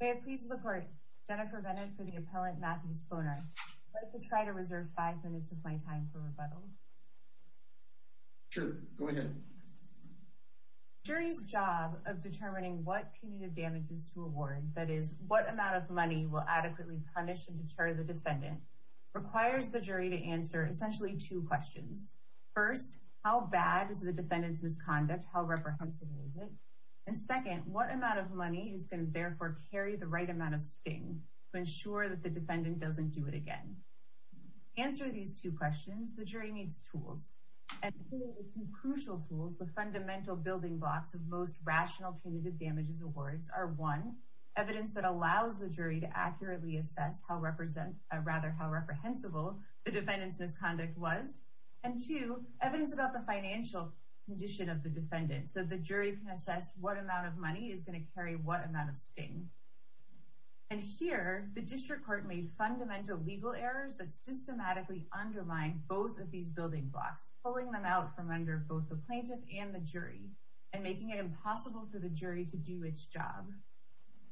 May I please look for Jennifer Bennett for the Appellant Matthew Sponer. I'd like to try to reserve five minutes of my time for rebuttal. Sure, go ahead. The jury's job of determining what punitive damages to award, that is, what amount of money will adequately punish and deter the defendant, requires the jury to answer essentially two questions. First, how bad is the defendant's misconduct, how reprehensible is it? And second, what amount of money is going to therefore carry the right amount of sting to ensure that the defendant doesn't do it again? To answer these two questions, the jury needs tools. And two crucial tools, the fundamental building blocks of most rational punitive damages awards are, one, evidence that allows the jury to accurately assess how reprehensible the defendant's misconduct was, and two, evidence about the financial condition of the defendant so the jury can assess what amount of money is going to carry what amount of sting. And here, the district court made fundamental legal errors that systematically undermine both of these building blocks, pulling them out from under both the plaintiff and the jury, and making it impossible for the jury to do its job.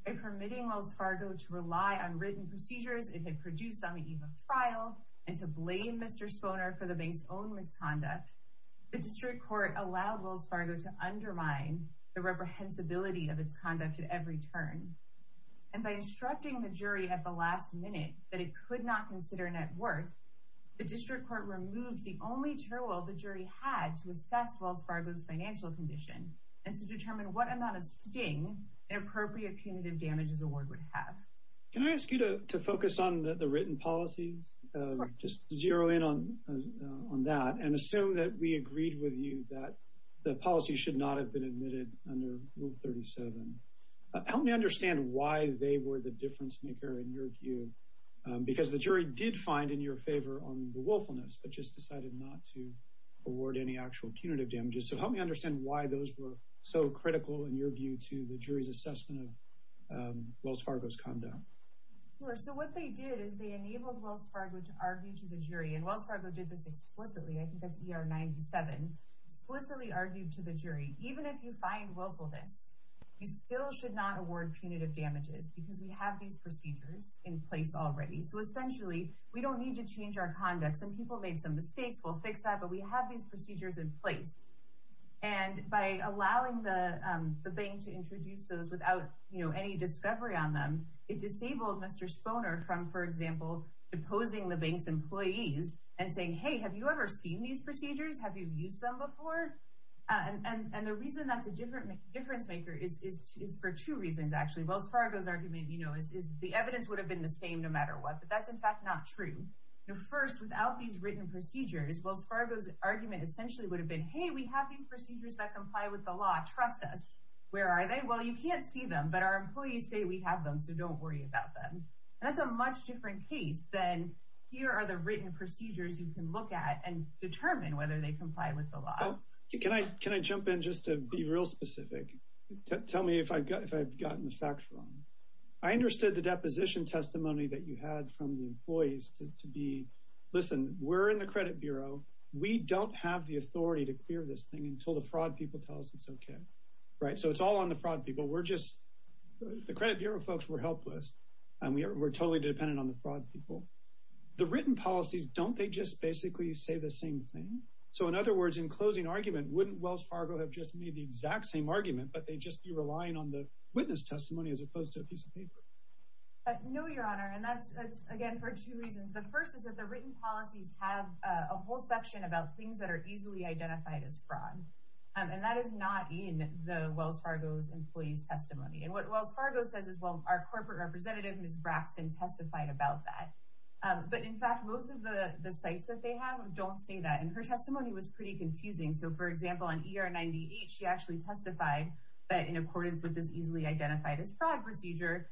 By permitting Wells Fargo to rely on written procedures it had produced on the eve of trial, and to blame Mr. Sponer for the bank's own misconduct, the district court allowed Wells Fargo to undermine the reprehensibility of its conduct at every turn. And by instructing the jury at the last minute that it could not consider net worth, the district court removed the only tool the jury had to assess Wells Fargo's financial condition, and to determine what amount of sting an appropriate punitive damages award would have. Can I ask you to focus on the written policies? Of course. Just zero in on that, and assume that we agreed with you that the policy should not have been admitted under Rule 37. Help me understand why they were the difference maker in your view, because the jury did find in your favor on the willfulness, but just decided not to award any actual punitive damages. So help me understand why those were so critical in your view to the jury's assessment of Wells Fargo's conduct. Sure. So what they did is they enabled Wells Fargo to argue to the jury. And Wells Fargo did this explicitly, I think that's ER 97, explicitly argued to the jury. Even if you find willfulness, you still should not award punitive damages, because we have these procedures in place already. So essentially, we don't need to change our conduct. Some people made some mistakes, we'll fix that, but we have these procedures in place. And by allowing the bank to introduce those without any discovery on them, it disabled Mr. Sponer from, for example, deposing the bank's employees and saying, hey, have you ever seen these procedures? Have you used them before? And the reason that's a difference maker is for two reasons, actually. Wells Fargo's argument is the evidence would have been the same no matter what, but that's in fact not true. First, without these written procedures, Wells Fargo's argument essentially would have been, hey, we have these procedures that comply with the law, trust us. Where are they? Well, you can't see them, but our employees say we have them, so don't worry about them. That's a much different case than here are the written procedures you can look at and determine whether they comply with the law. Can I jump in just to be real specific? Tell me if I've gotten the facts wrong. I understood the deposition testimony that you had from the employees to be, listen, we're in the credit bureau. We don't have the authority to clear this thing until the fraud people tell us it's OK. Right, so it's all on the fraud people. We're just, the credit bureau folks were helpless, and we're totally dependent on the fraud people. The written policies, don't they just basically say the same thing? So in other words, in closing argument, wouldn't Wells Fargo have just made the exact same argument, but they'd just be relying on the witness testimony as opposed to a piece of paper? No, Your Honor, and that's, again, for two reasons. The first is that the written policies have a whole section about things that are easily identified as fraud. And that is not in the Wells Fargo's employee's testimony. And what Wells Fargo says is, well, our corporate representative, Ms. Braxton, testified about that. But in fact, most of the sites that they have don't say that, and her testimony was pretty confusing. So for example, on ER 98, she actually testified that in accordance with this easily identified as fraud procedure,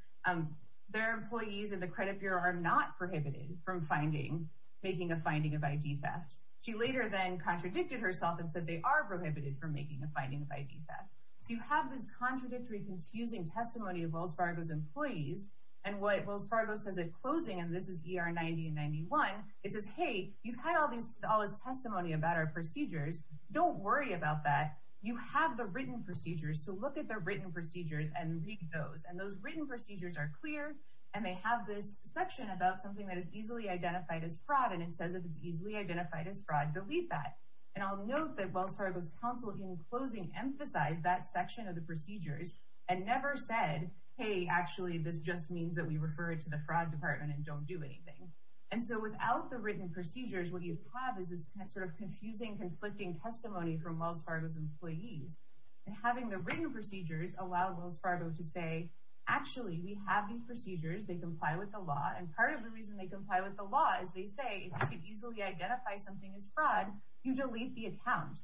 their employees in the credit bureau are not prohibited from finding, making a finding of ID theft. She later then contradicted herself and said they are prohibited from making a finding of ID theft. So you have this contradictory, confusing testimony of Wells Fargo's employees, and what Wells Fargo says at closing, and this is ER 90 and 91, it says, hey, you've had all this testimony about our procedures. Don't worry about that. You have the written procedures, so look at the written procedures and read those. And those written procedures are clear, and they have this section about something that is easily identified as fraud, and it says that it's easily identified as fraud. Delete that. And I'll note that Wells Fargo's counsel in closing emphasized that section of the procedures and never said, hey, actually, this just means that we refer it to the fraud department and don't do anything. And so without the written procedures, what you have is this sort of confusing, conflicting testimony from Wells Fargo's employees. And having the written procedures allow Wells Fargo to say, actually, we have these procedures. They comply with the law, and part of the reason they comply with the law is they say, if you could easily identify something as fraud, you delete the account.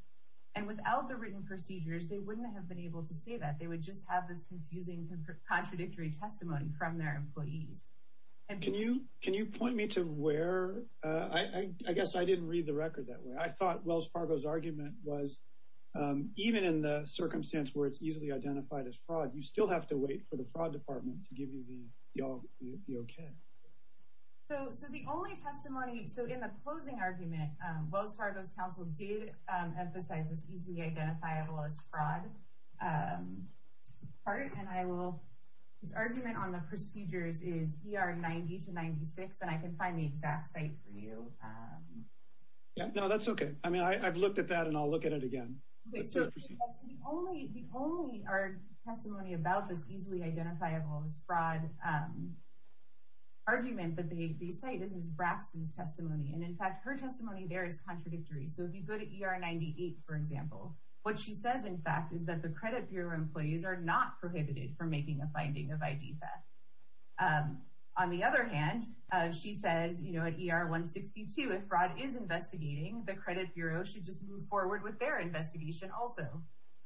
And without the written procedures, they wouldn't have been able to say that. They would just have this confusing, contradictory testimony from their employees. Can you point me to where – I guess I didn't read the record that way. I thought Wells Fargo's argument was even in the circumstance where it's easily identified as fraud, you still have to wait for the fraud department to give you the okay. So the only testimony – so in the closing argument, Wells Fargo's counsel did emphasize this easily identifiable as fraud part, and I will – its argument on the procedures is ER 90 to 96, and I can find the exact site for you. No, that's okay. I mean, I've looked at that, and I'll look at it again. The only testimony about this easily identifiable as fraud argument that they cite is Ms. Braxton's testimony, and in fact, her testimony there is contradictory. So if you go to ER 98, for example, what she says, in fact, is that the credit bureau employees are not prohibited from making a finding of ID theft. On the other hand, she says at ER 162, if fraud is investigating, the credit bureau should just move forward with their investigation also.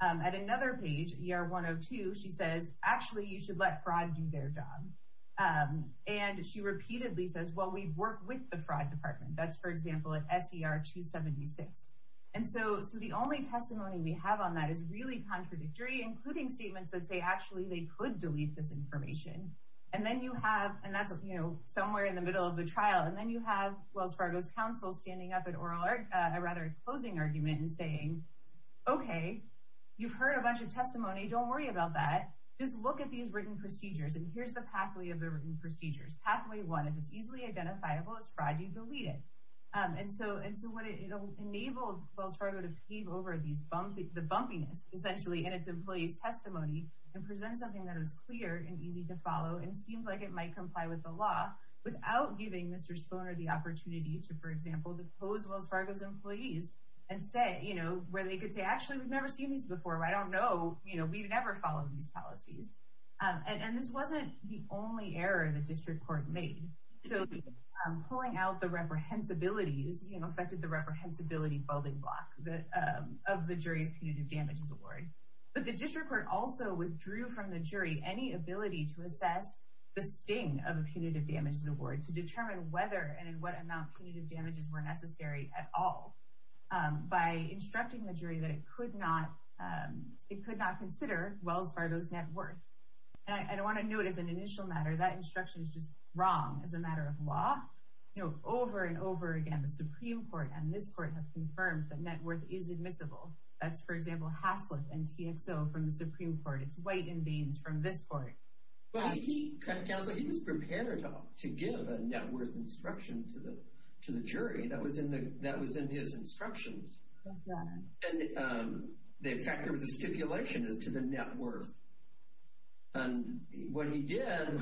At another page, ER 102, she says, actually, you should let fraud do their job. And she repeatedly says, well, we've worked with the fraud department. That's, for example, at SER 276. And so the only testimony we have on that is really contradictory, including statements that say actually they could delete this information. And then you have – and that's, you know, somewhere in the middle of the trial. And then you have Wells Fargo's counsel standing up at oral – or rather a closing argument and saying, okay, you've heard a bunch of testimony. Don't worry about that. Just look at these written procedures, and here's the pathway of the written procedures. Pathway one, if it's easily identifiable as fraud, you delete it. And so what it – it enabled Wells Fargo to pave over these – the bumpiness, essentially, in its employees' testimony and present something that is clear and easy to follow and seems like it might comply with the law without giving Mr. Sponer the opportunity to, for example, depose Wells Fargo's employees and say – you know, where they could say, actually, we've never seen these before. I don't know. You know, we've never followed these policies. And this wasn't the only error the district court made. So pulling out the reprehensibilities, you know, affected the reprehensibility building block of the jury's punitive damages award. But the district court also withdrew from the jury any ability to assess the sting of a punitive damages award to determine whether and in what amount punitive damages were necessary at all by instructing the jury that it could not – it could not consider Wells Fargo's net worth. And I don't want to know it as an initial matter. That instruction is just wrong as a matter of law. You know, over and over again, the Supreme Court and this court have confirmed that net worth is admissible. That's, for example, Haslip and TXO from the Supreme Court. It's White and Baines from this court. But he – Counsel, he was prepared to give a net worth instruction to the jury. That was in the – that was in his instructions. That's right. And the effect of the stipulation is to the net worth. And when he did,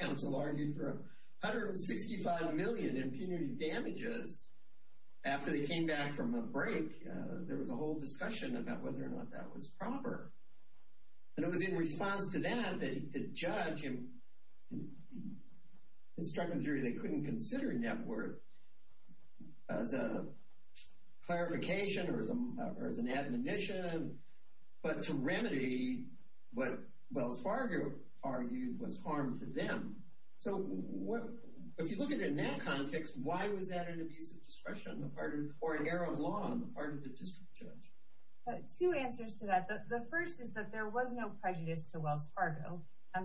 Counsel argued for 165 million in punitive damages. After they came back from the break, there was a whole discussion about whether or not that was proper. And it was in response to that that the judge instructed the jury they couldn't consider net worth as a clarification or as an admonition, but to remedy what Wells Fargo argued was harm to them. So if you look at it in that context, why was that an abuse of discretion on the part of – or an error of law on the part of the district judge? Two answers to that. The first is that there was no prejudice to Wells Fargo.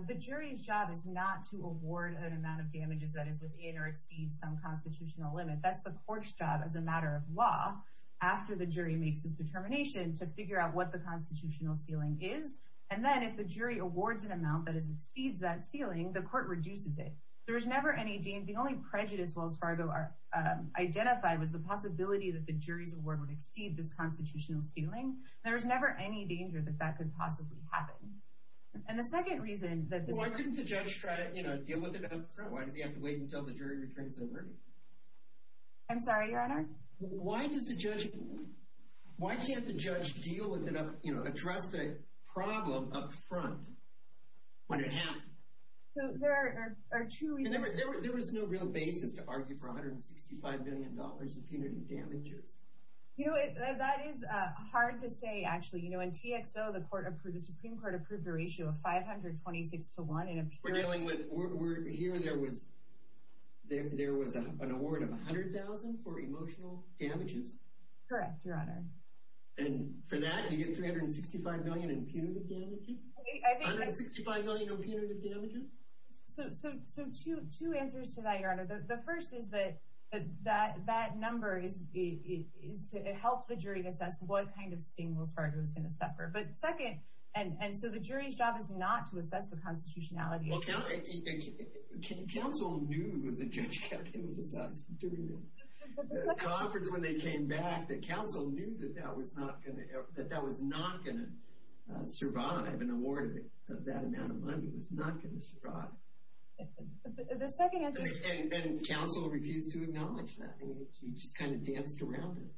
The jury's job is not to award an amount of damages that is within or exceeds some constitutional limit. That's the court's job as a matter of law, after the jury makes its determination, to figure out what the constitutional ceiling is. And then if the jury awards an amount that exceeds that ceiling, the court reduces it. There's never any danger. The only prejudice Wells Fargo identified was the possibility that the jury's award would exceed this constitutional ceiling. There's never any danger that that could possibly happen. And the second reason that – Well, why couldn't the judge try to deal with it up front? Why does he have to wait until the jury retrains their verdict? I'm sorry, Your Honor? Why does the judge – Why can't the judge deal with it up – you know, address the problem up front when it happened? There are two reasons. There was no real basis to argue for $165 million in punitive damages. You know, that is hard to say, actually. You know, in TXO, the Supreme Court approved a ratio of 526 to 1 in a period – We're dealing with – here, there was an award of $100,000 for emotional damages? Correct, Your Honor. And for that, you get $365 million in punitive damages? $165 million in punitive damages? So two answers to that, Your Honor. The first is that that number is to help the jury assess what kind of sting Wells Fargo is going to suffer. But second – and so the jury's job is not to assess the constitutionality. Well, counsel knew the judge had to assess during the conference when they came back. The counsel knew that that was not going to survive. An award of that amount of money was not going to survive. The second answer is – And counsel refused to acknowledge that. I mean, you just kind of danced around it.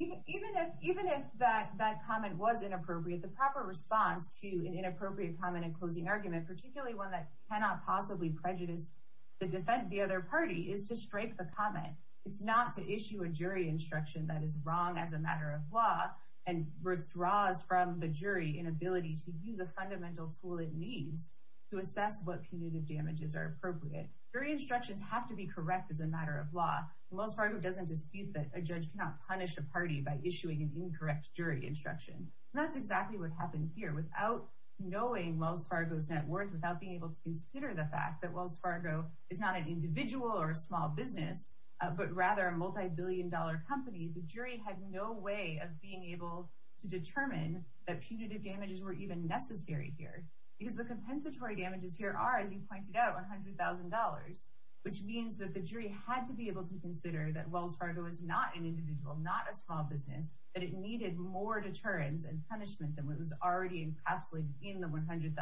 Even if that comment was inappropriate, the proper response to an inappropriate comment and closing argument, particularly one that cannot possibly prejudice the defense of the other party, is to strike the comment. It's not to issue a jury instruction that is wrong as a matter of law and withdraws from the jury an ability to use a fundamental tool it needs to assess what punitive damages are appropriate. Jury instructions have to be correct as a matter of law. And Wells Fargo doesn't dispute that a judge cannot punish a party by issuing an incorrect jury instruction. And that's exactly what happened here. Without knowing Wells Fargo's net worth, without being able to consider the fact that Wells Fargo is not an individual or a small business, but rather a multibillion-dollar company, the jury had no way of being able to determine that punitive damages were even necessary here. Because the compensatory damages here are, as you pointed out, $100,000, which means that the jury had to be able to consider that Wells Fargo is not an individual, not a small business, that it needed more deterrence and punishment than what was already encapsulated in the $100,000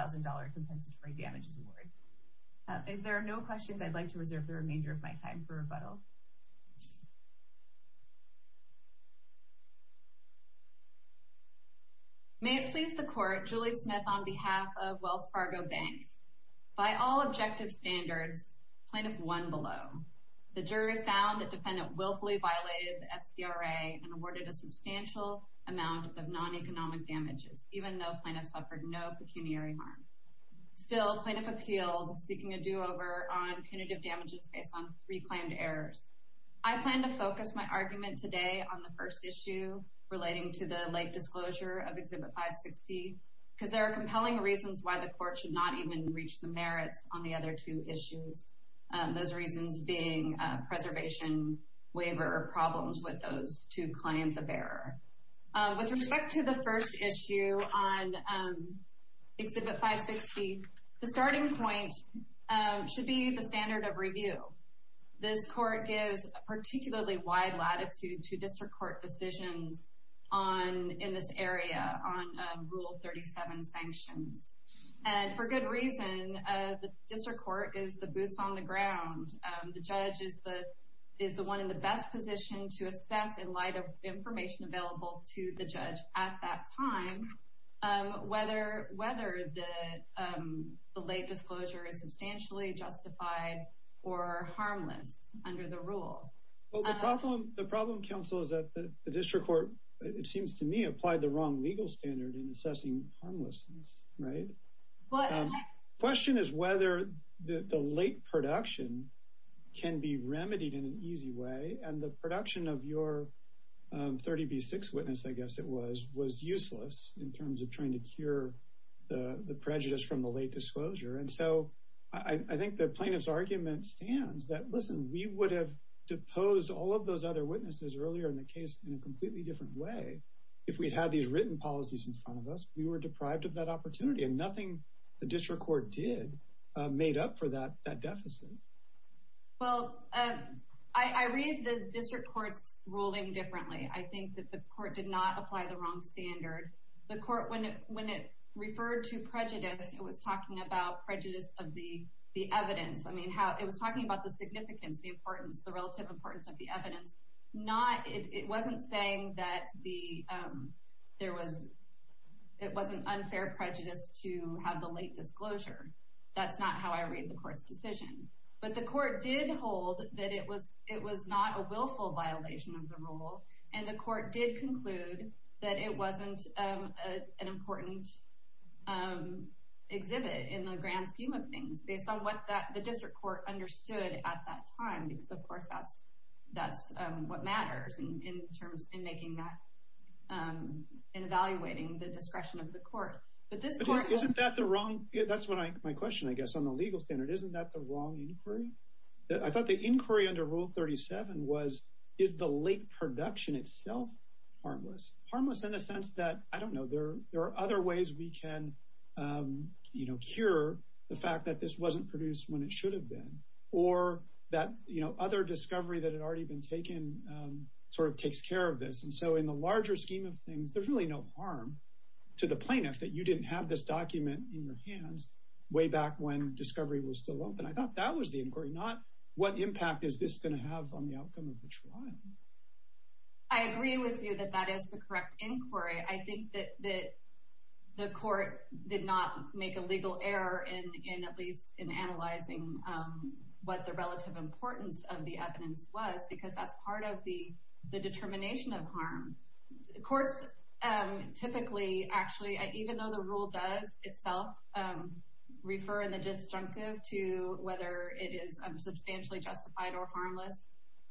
compensatory damages award. If there are no questions, I'd like to reserve the remainder of my time for rebuttal. May it please the Court, Julie Smith on behalf of Wells Fargo Bank. By all objective standards, Plaintiff won below. The jury found the defendant willfully violated the FCRA and awarded a substantial amount of non-economic damages, even though Plaintiff suffered no pecuniary harm. Still, Plaintiff appealed, seeking a do-over on punitive damages based on three claimed errors. I plan to focus my argument today on the first issue, relating to the late disclosure of Exhibit 560, because there are compelling reasons why the Court should not even reach the merits on the other two issues, those reasons being preservation, waiver, or problems with those two claims of error. With respect to the first issue on Exhibit 560, the starting point should be the standard of review. This Court gives a particularly wide latitude to district court decisions in this area on Rule 37 sanctions. And for good reason, the district court is the boots on the ground. The judge is the one in the best position to assess, in light of information available to the judge at that time, whether the late disclosure is substantially justified or harmless under the rule. The problem, counsel, is that the district court, it seems to me, applied the wrong legal standard in assessing harmlessness. The question is whether the late production can be remedied in an easy way, and the production of your 30B6 witness, I guess it was, was useless in terms of trying to cure the prejudice from the late disclosure. And so I think the plaintiff's argument stands that, listen, we would have deposed all of those other witnesses earlier in the case in a completely different way if we had these written policies in front of us. We were deprived of that opportunity, and nothing the district court did made up for that deficit. Well, I read the district court's ruling differently. I think that the court did not apply the wrong standard. The court, when it referred to prejudice, it was talking about prejudice of the evidence. I mean, it was talking about the significance, the importance, the relative importance of the evidence. It wasn't saying that it was an unfair prejudice to have the late disclosure. That's not how I read the court's decision. But the court did hold that it was not a willful violation of the rule, and the court did conclude that it wasn't an important exhibit in the grand scheme of things, based on what the district court understood at that time, because, of course, that's what matters in making that, in evaluating the discretion of the court. That's my question, I guess, on the legal standard. Isn't that the wrong inquiry? I thought the inquiry under Rule 37 was, is the late production itself harmless? Harmless in a sense that, I don't know, there are other ways we can cure the fact that this wasn't produced when it should have been, or that other discovery that had already been taken sort of takes care of this. And so in the larger scheme of things, there's really no harm to the plaintiff that you didn't have this document in your hands way back when discovery was still open. I thought that was the inquiry, not what impact is this going to have on the outcome of the trial. I agree with you that that is the correct inquiry. I think that the court did not make a legal error in at least in analyzing what the relative importance of the evidence was, because that's part of the determination of harm. Courts typically, actually, even though the rule does itself refer in the disjunctive to whether it is substantially justified or harmless,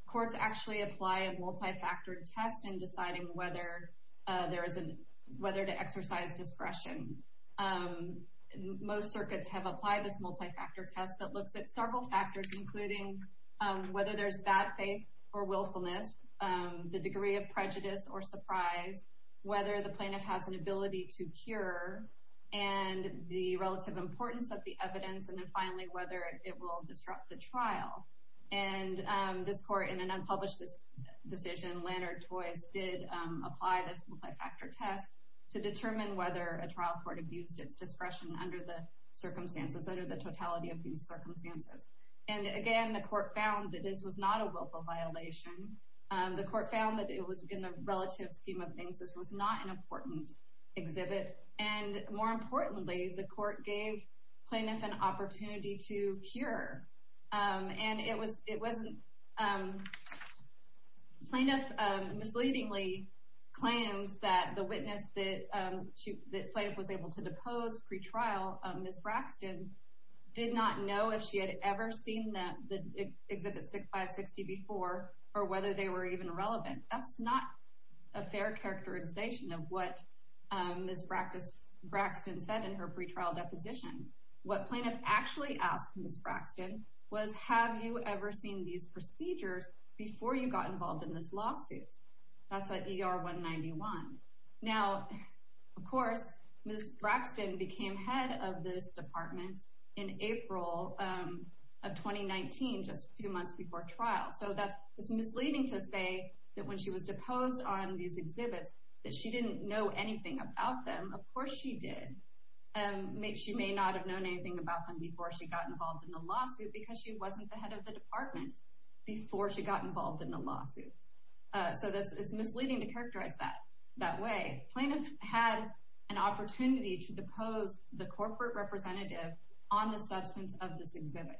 courts actually apply a multi-factor test in deciding whether to exercise discretion. Most circuits have applied this multi-factor test that looks at several factors, including whether there's bad faith or willfulness, the degree of prejudice or surprise, whether the plaintiff has an ability to cure, and the relative importance of the evidence, and then finally whether it will disrupt the trial. And this court, in an unpublished decision, Lannert-Toyce, did apply this multi-factor test to determine whether a trial court abused its discretion under the circumstances, And again, the court found that this was not a willful violation. The court found that it was in the relative scheme of things. This was not an important exhibit. And more importantly, the court gave plaintiff an opportunity to cure. And it wasn't... Plaintiff misleadingly claims that the witness that plaintiff was able to depose pretrial, Ms. Braxton, did not know if she had ever seen the Exhibit 560 before or whether they were even relevant. That's not a fair characterization of what Ms. Braxton said in her pretrial deposition. What plaintiff actually asked Ms. Braxton was, Have you ever seen these procedures before you got involved in this lawsuit? That's at ER 191. Now, of course, Ms. Braxton became head of this department in April of 2019, just a few months before trial. So that's misleading to say that when she was deposed on these exhibits that she didn't know anything about them. Of course she did. She may not have known anything about them before she got involved in the lawsuit because she wasn't the head of the department before she got involved in the lawsuit. So it's misleading to characterize that that way. Plaintiff had an opportunity to depose the corporate representative on the substance of this exhibit.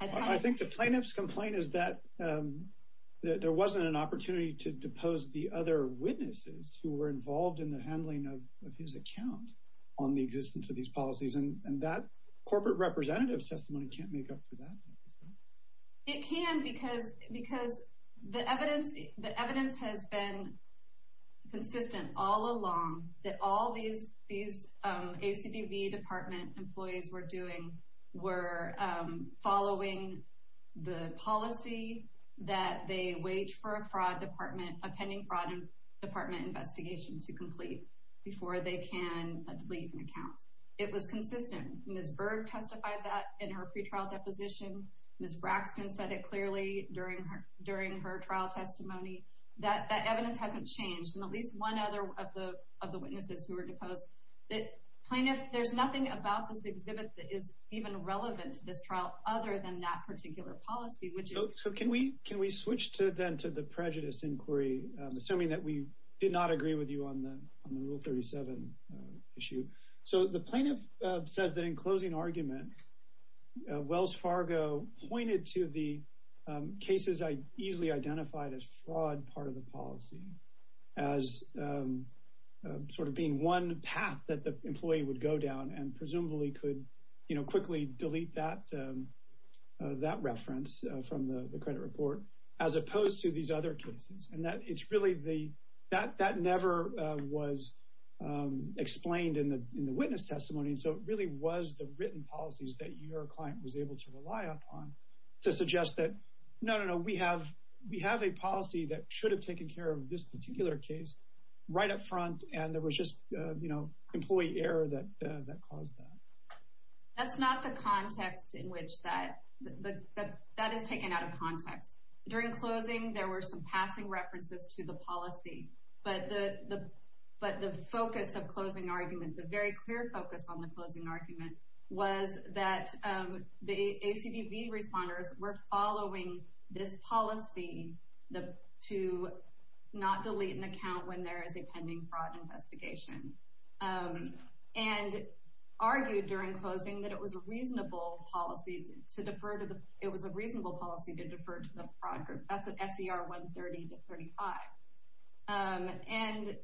I think the plaintiff's complaint is that there wasn't an opportunity to depose the other witnesses who were involved in the handling of his account on the existence of these policies. And that corporate representative's testimony can't make up for that. It can because the evidence has been consistent all along that all these ACDB department employees were following the policy that they waged for a pending fraud department investigation to complete before they can delete an account. It was consistent. Ms. Berg testified that in her pretrial deposition. Ms. Braxton said it clearly during her trial testimony. That evidence hasn't changed. And at least one other of the witnesses who were deposed. Plaintiff, there's nothing about this exhibit that is even relevant to this trial other than that particular policy. So can we switch then to the prejudice inquiry, assuming that we did not agree with you on the Rule 37 issue. So the plaintiff says that in closing argument, Wells Fargo pointed to the cases I easily identified as fraud part of the policy as sort of being one path that the employee would go down and presumably could quickly delete that reference from the credit report as opposed to these other cases. And that never was explained in the witness testimony. So it really was the written policies that your client was able to rely upon to suggest that, no, no, no, we have a policy that should have taken care of this particular case right up front, and there was just employee error that caused that. That's not the context in which that is taken out of context. During closing, there were some passing references to the policy. But the focus of closing argument, the very clear focus on the closing argument, was that the ACDB responders were following this policy to not delete an account when there is a pending fraud investigation. And argued during closing that it was a reasonable policy to defer to the policy as a fraud group. That's at SER 130-35. And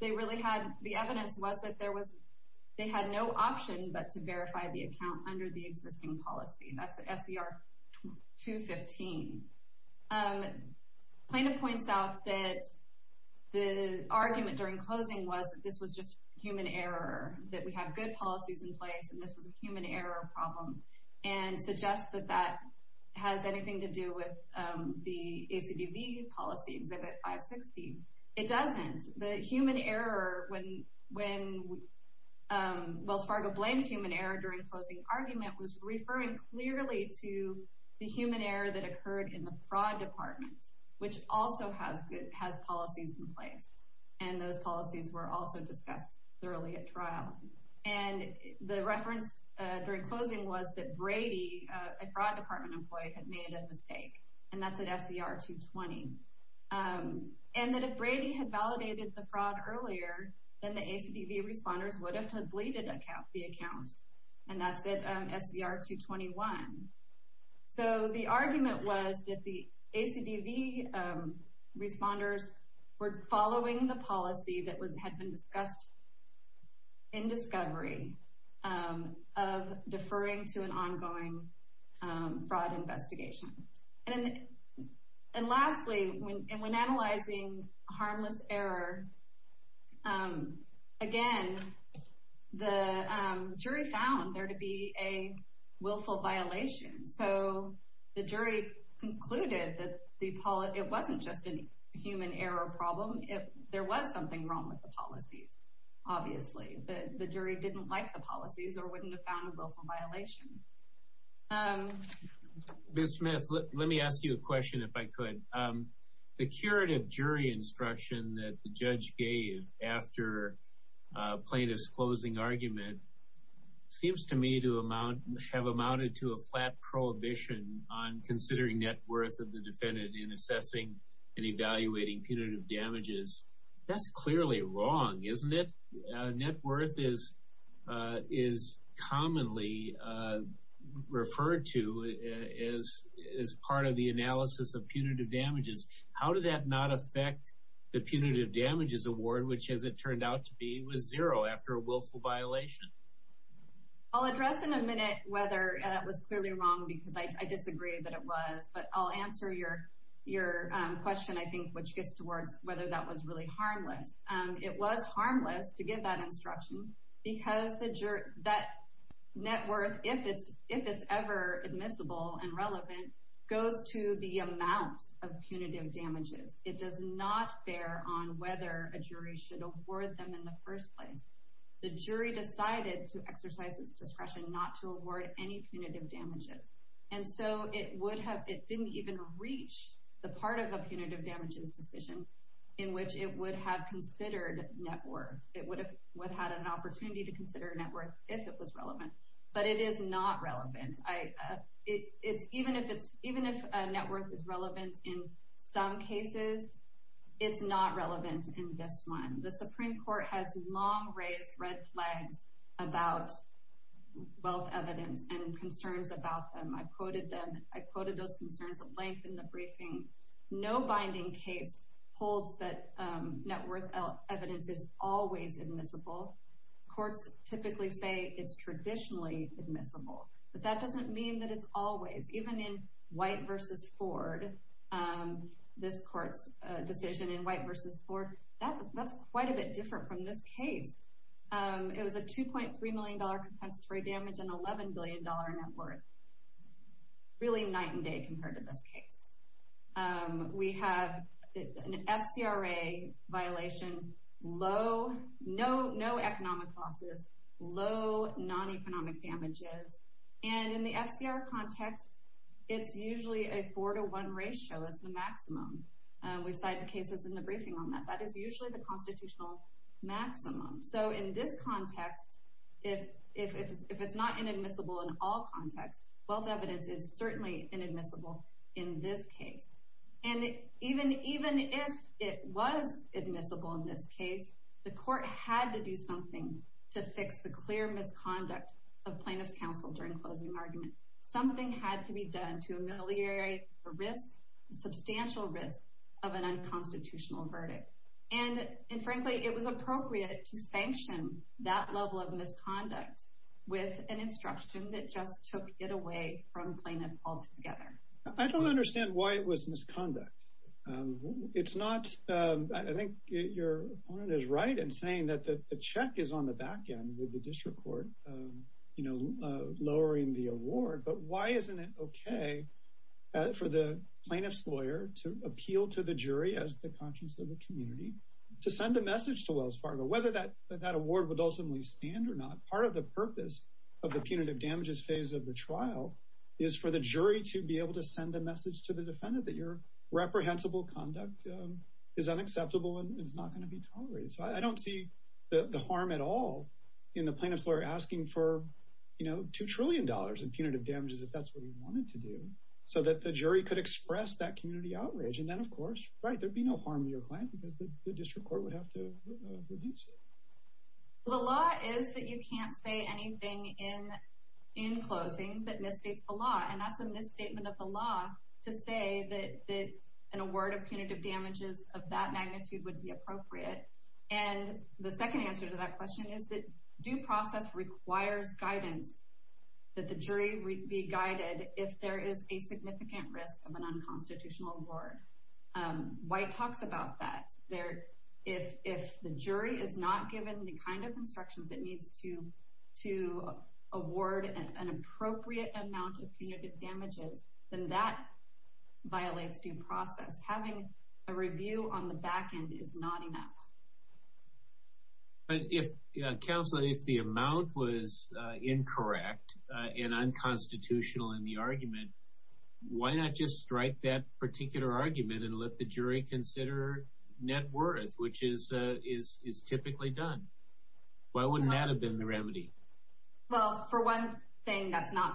the evidence was that they had no option but to verify the account under the existing policy. That's at SER 215. Plaintiff points out that the argument during closing was that this was just human error, that we have good policies in place and this was a human error problem, and suggests that that has anything to do with the ACDB policy, Exhibit 516. It doesn't. The human error when Wells Fargo blamed human error during closing argument was referring clearly to the human error that occurred in the fraud department, which also has policies in place. And those policies were also discussed thoroughly at trial. And the reference during closing was that Brady, a fraud department employee, had made a mistake. And that's at SER 220. And that if Brady had validated the fraud earlier, then the ACDB responders would have deleted the account. And that's at SER 221. So the argument was that the ACDB responders were following the policy that had been discussed in discovery of deferring to an ongoing fraud investigation. And lastly, when analyzing harmless error, again, the jury found there to be a willful violation. So the jury concluded that it wasn't just a human error problem. There was something wrong with the policies, obviously. The jury didn't like the policies or wouldn't have found a willful violation. Ms. Smith, let me ask you a question if I could. The curative jury instruction that the judge gave after plaintiff's closing argument seems to me to have amounted to a flat prohibition on considering net worth of the defendant in assessing and evaluating punitive damages. That's clearly wrong, isn't it? Net worth is commonly referred to as part of the analysis of punitive damages. How did that not affect the punitive damages award, which, as it turned out to be, was zero after a willful violation? I'll address in a minute whether that was clearly wrong because I disagree that it was. But I'll answer your question, I think, which gets towards whether that was really harmless. It was harmless to give that instruction because that net worth, if it's ever admissible and relevant, goes to the amount of punitive damages. It does not bear on whether a jury should award them in the first place. The jury decided to exercise its discretion not to award any punitive damages. And so it didn't even reach the part of a punitive damages decision in which it would have considered net worth. It would have had an opportunity to consider net worth if it was relevant. But it is not relevant. Even if net worth is relevant in some cases, it's not relevant in this one. The Supreme Court has long raised red flags about wealth evidence and concerns about them. I quoted them. I quoted those concerns at length in the briefing. No binding case holds that net worth evidence is always admissible. Courts typically say it's traditionally admissible. But that doesn't mean that it's always. Even in White v. Ford, this court's decision in White v. Ford, that's quite a bit different from this case. It was a $2.3 million compensatory damage and $11 billion net worth. Really night and day compared to this case. We have an FCRA violation, no economic losses, low non-economic damages. And in the FCRA context, it's usually a 4 to 1 ratio is the maximum. We've cited cases in the briefing on that. That is usually the constitutional maximum. So in this context, if it's not inadmissible in all contexts, wealth evidence is certainly inadmissible in this case. And even if it was admissible in this case, the court had to do something to fix the clear misconduct of plaintiff's counsel during closing argument. Something had to be done to ameliorate the risk, the substantial risk, of an unconstitutional verdict. And frankly, it was appropriate to sanction that level of misconduct with an instruction that just took it away from plaintiff altogether. I don't understand why it was misconduct. I think your opponent is right in saying that the check is on the back end with the district court, you know, lowering the award. But why isn't it okay for the plaintiff's lawyer to appeal to the jury as the conscience of the community to send a message to Wells Fargo? Whether that award would ultimately stand or not, part of the purpose of the punitive damages phase of the trial is for the jury to be able to send a message to the defendant that your reprehensible conduct is unacceptable and is not going to be tolerated. So I don't see the harm at all in the plaintiff's lawyer asking for, you know, $2 trillion in punitive damages if that's what he wanted to do so that the jury could express that community outrage. And then, of course, right, there'd be no harm to your client because the district court would have to reduce it. The law is that you can't say anything in closing that misstates the law. And that's a misstatement of the law to say that an award of punitive damages of that magnitude would be appropriate. And the second answer to that question is that due process requires guidance that the jury be guided if there is a significant risk of an unconstitutional award. White talks about that there. If if the jury is not given the kind of instructions that needs to to award an appropriate amount of punitive damages, then that violates due process. Having a review on the back end is not enough. But if counsel, if the amount was incorrect and unconstitutional in the argument, why not just strike that particular argument and let the jury consider net worth, which is is typically done? Why wouldn't that have been the remedy? Well, for one thing, that's not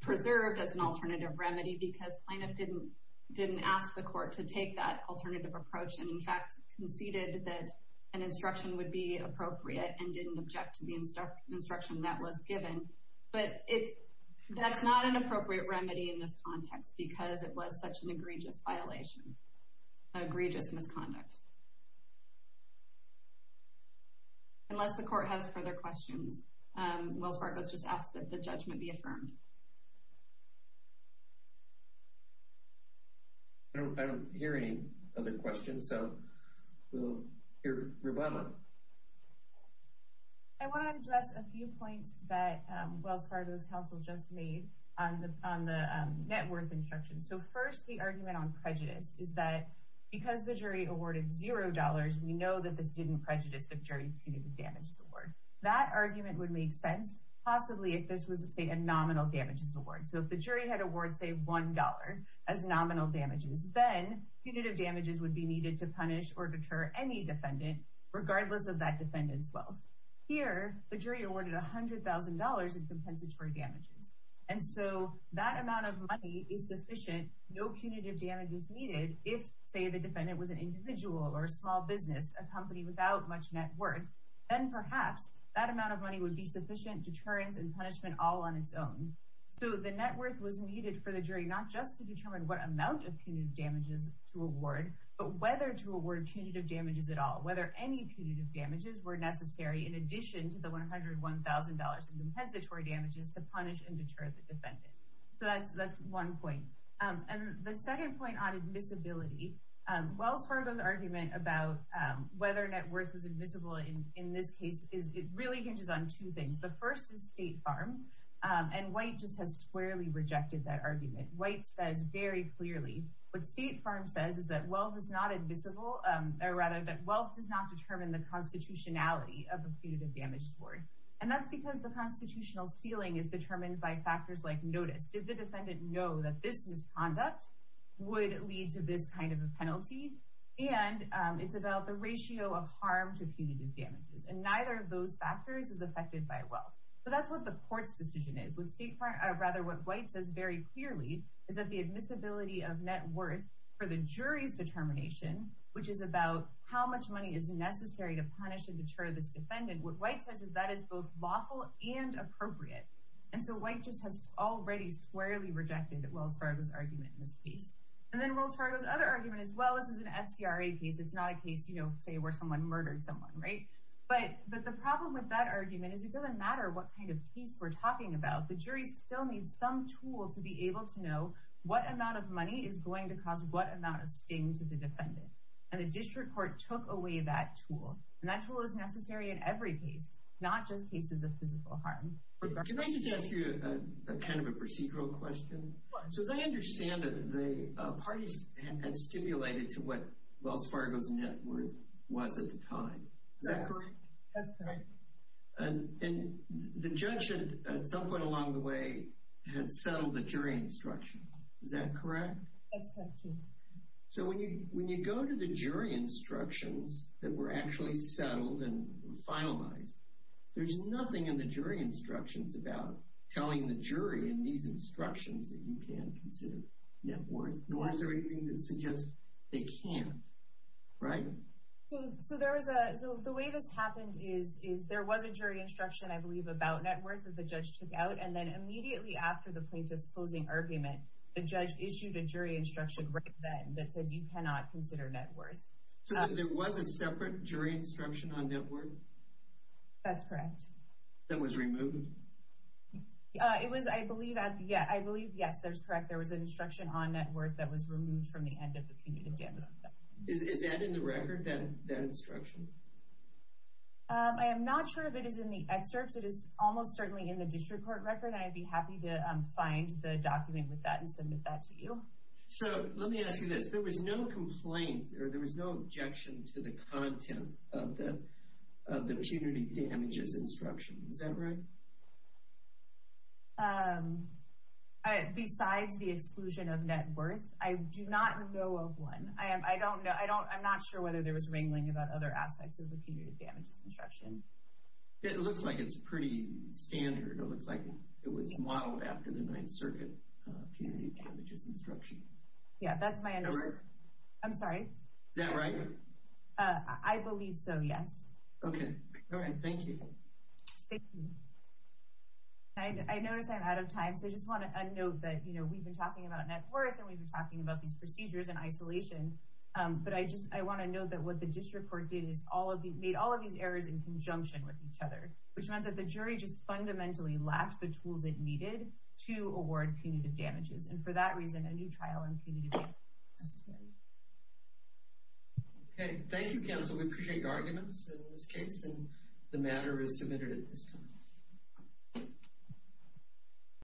preserved as an alternative remedy because plaintiff didn't didn't ask the court to take that alternative approach. And in fact, conceded that an instruction would be appropriate and didn't object to the instruction that was given. But that's not an appropriate remedy in this context because it was such an egregious violation, egregious misconduct. Unless the court has further questions. Wells Fargo's just asked that the judgment be affirmed. I don't hear any other questions, so we'll hear. I want to address a few points that Wells Fargo's counsel just made on the on the net worth instruction. So first, the argument on prejudice is that because the jury awarded zero dollars, we know that this didn't prejudice the jury punitive damages award. That argument would make sense possibly if this was, say, a nominal damages award. So if the jury had award, say, one dollar as nominal damages, then punitive damages would be needed to punish or deter any defendant, regardless of that defendant's wealth. Here, the jury awarded one hundred thousand dollars in compensatory damages. And so that amount of money is sufficient. No punitive damage is needed. If, say, the defendant was an individual or a small business, a company without much net worth, then perhaps that amount of money would be sufficient deterrence and punishment all on its own. So the net worth was needed for the jury, not just to determine what amount of punitive damages to award, but whether to award punitive damages at all. Whether any punitive damages were necessary in addition to the one hundred one thousand dollars in compensatory damages to punish and deter the defendant. So that's that's one point. And the second point on admissibility. Wells Fargo's argument about whether net worth was admissible in this case is it really hinges on two things. The first is State Farm and White just has squarely rejected that argument. White says very clearly what State Farm says is that wealth is not admissible or rather that wealth does not determine the constitutionality of the punitive damage. And that's because the constitutional ceiling is determined by factors like notice. Did the defendant know that this misconduct would lead to this kind of a penalty? And it's about the ratio of harm to punitive damages. And neither of those factors is affected by wealth. So that's what the court's decision is with State Farm. Rather, what White says very clearly is that the admissibility of net worth for the jury's determination, which is about how much money is necessary to punish and deter this defendant. What White says is that is both lawful and appropriate. And so White just has already squarely rejected Wells Fargo's argument in this case. And then Wells Fargo's other argument as well, this is an FCRA case. It's not a case, you know, say where someone murdered someone. Right. But the problem with that argument is it doesn't matter what kind of case we're talking about. The jury still needs some tool to be able to know what amount of money is going to cause what amount of sting to the defendant. And the district court took away that tool. And that tool is necessary in every case, not just cases of physical harm. Can I just ask you a kind of a procedural question? So as I understand it, the parties had stipulated to what Wells Fargo's net worth was at the time. Is that correct? That's correct. And the judge at some point along the way had settled the jury instruction. Is that correct? That's correct, too. So when you go to the jury instructions that were actually settled and finalized, there's nothing in the jury instructions about telling the jury in these instructions that you can consider net worth. Nor is there anything that suggests they can't. Right? So the way this happened is there was a jury instruction, I believe, about net worth that the judge took out. And then immediately after the plaintiff's closing argument, the judge issued a jury instruction right then that said you cannot consider net worth. So there was a separate jury instruction on net worth? That's correct. That was removed? It was, I believe, yes, there's correct. There was an instruction on net worth that was removed from the end of the punitive damages. Is that in the record, that instruction? I am not sure if it is in the excerpts. It is almost certainly in the district court record, and I'd be happy to find the document with that and submit that to you. So let me ask you this. There was no complaint or there was no objection to the content of the punitive damages instruction. Is that right? Besides the exclusion of net worth, I do not know of one. I'm not sure whether there was wrangling about other aspects of the punitive damages instruction. It looks like it's pretty standard. It looks like it was modeled after the Ninth Circuit punitive damages instruction. Yeah, that's my understanding. Is that right? I'm sorry? Is that right? I believe so, yes. Okay. All right. Thank you. Thank you. I notice I'm out of time, so I just want to note that we've been talking about net worth and we've been talking about these procedures in isolation. But I want to note that what the district court did is made all of these errors in conjunction with each other, which meant that the jury just fundamentally lacked the tools it needed to award punitive damages. And for that reason, a new trial on punitive damages is necessary. Okay. Thank you, counsel. We appreciate your arguments in this case, and the matter is submitted at this time.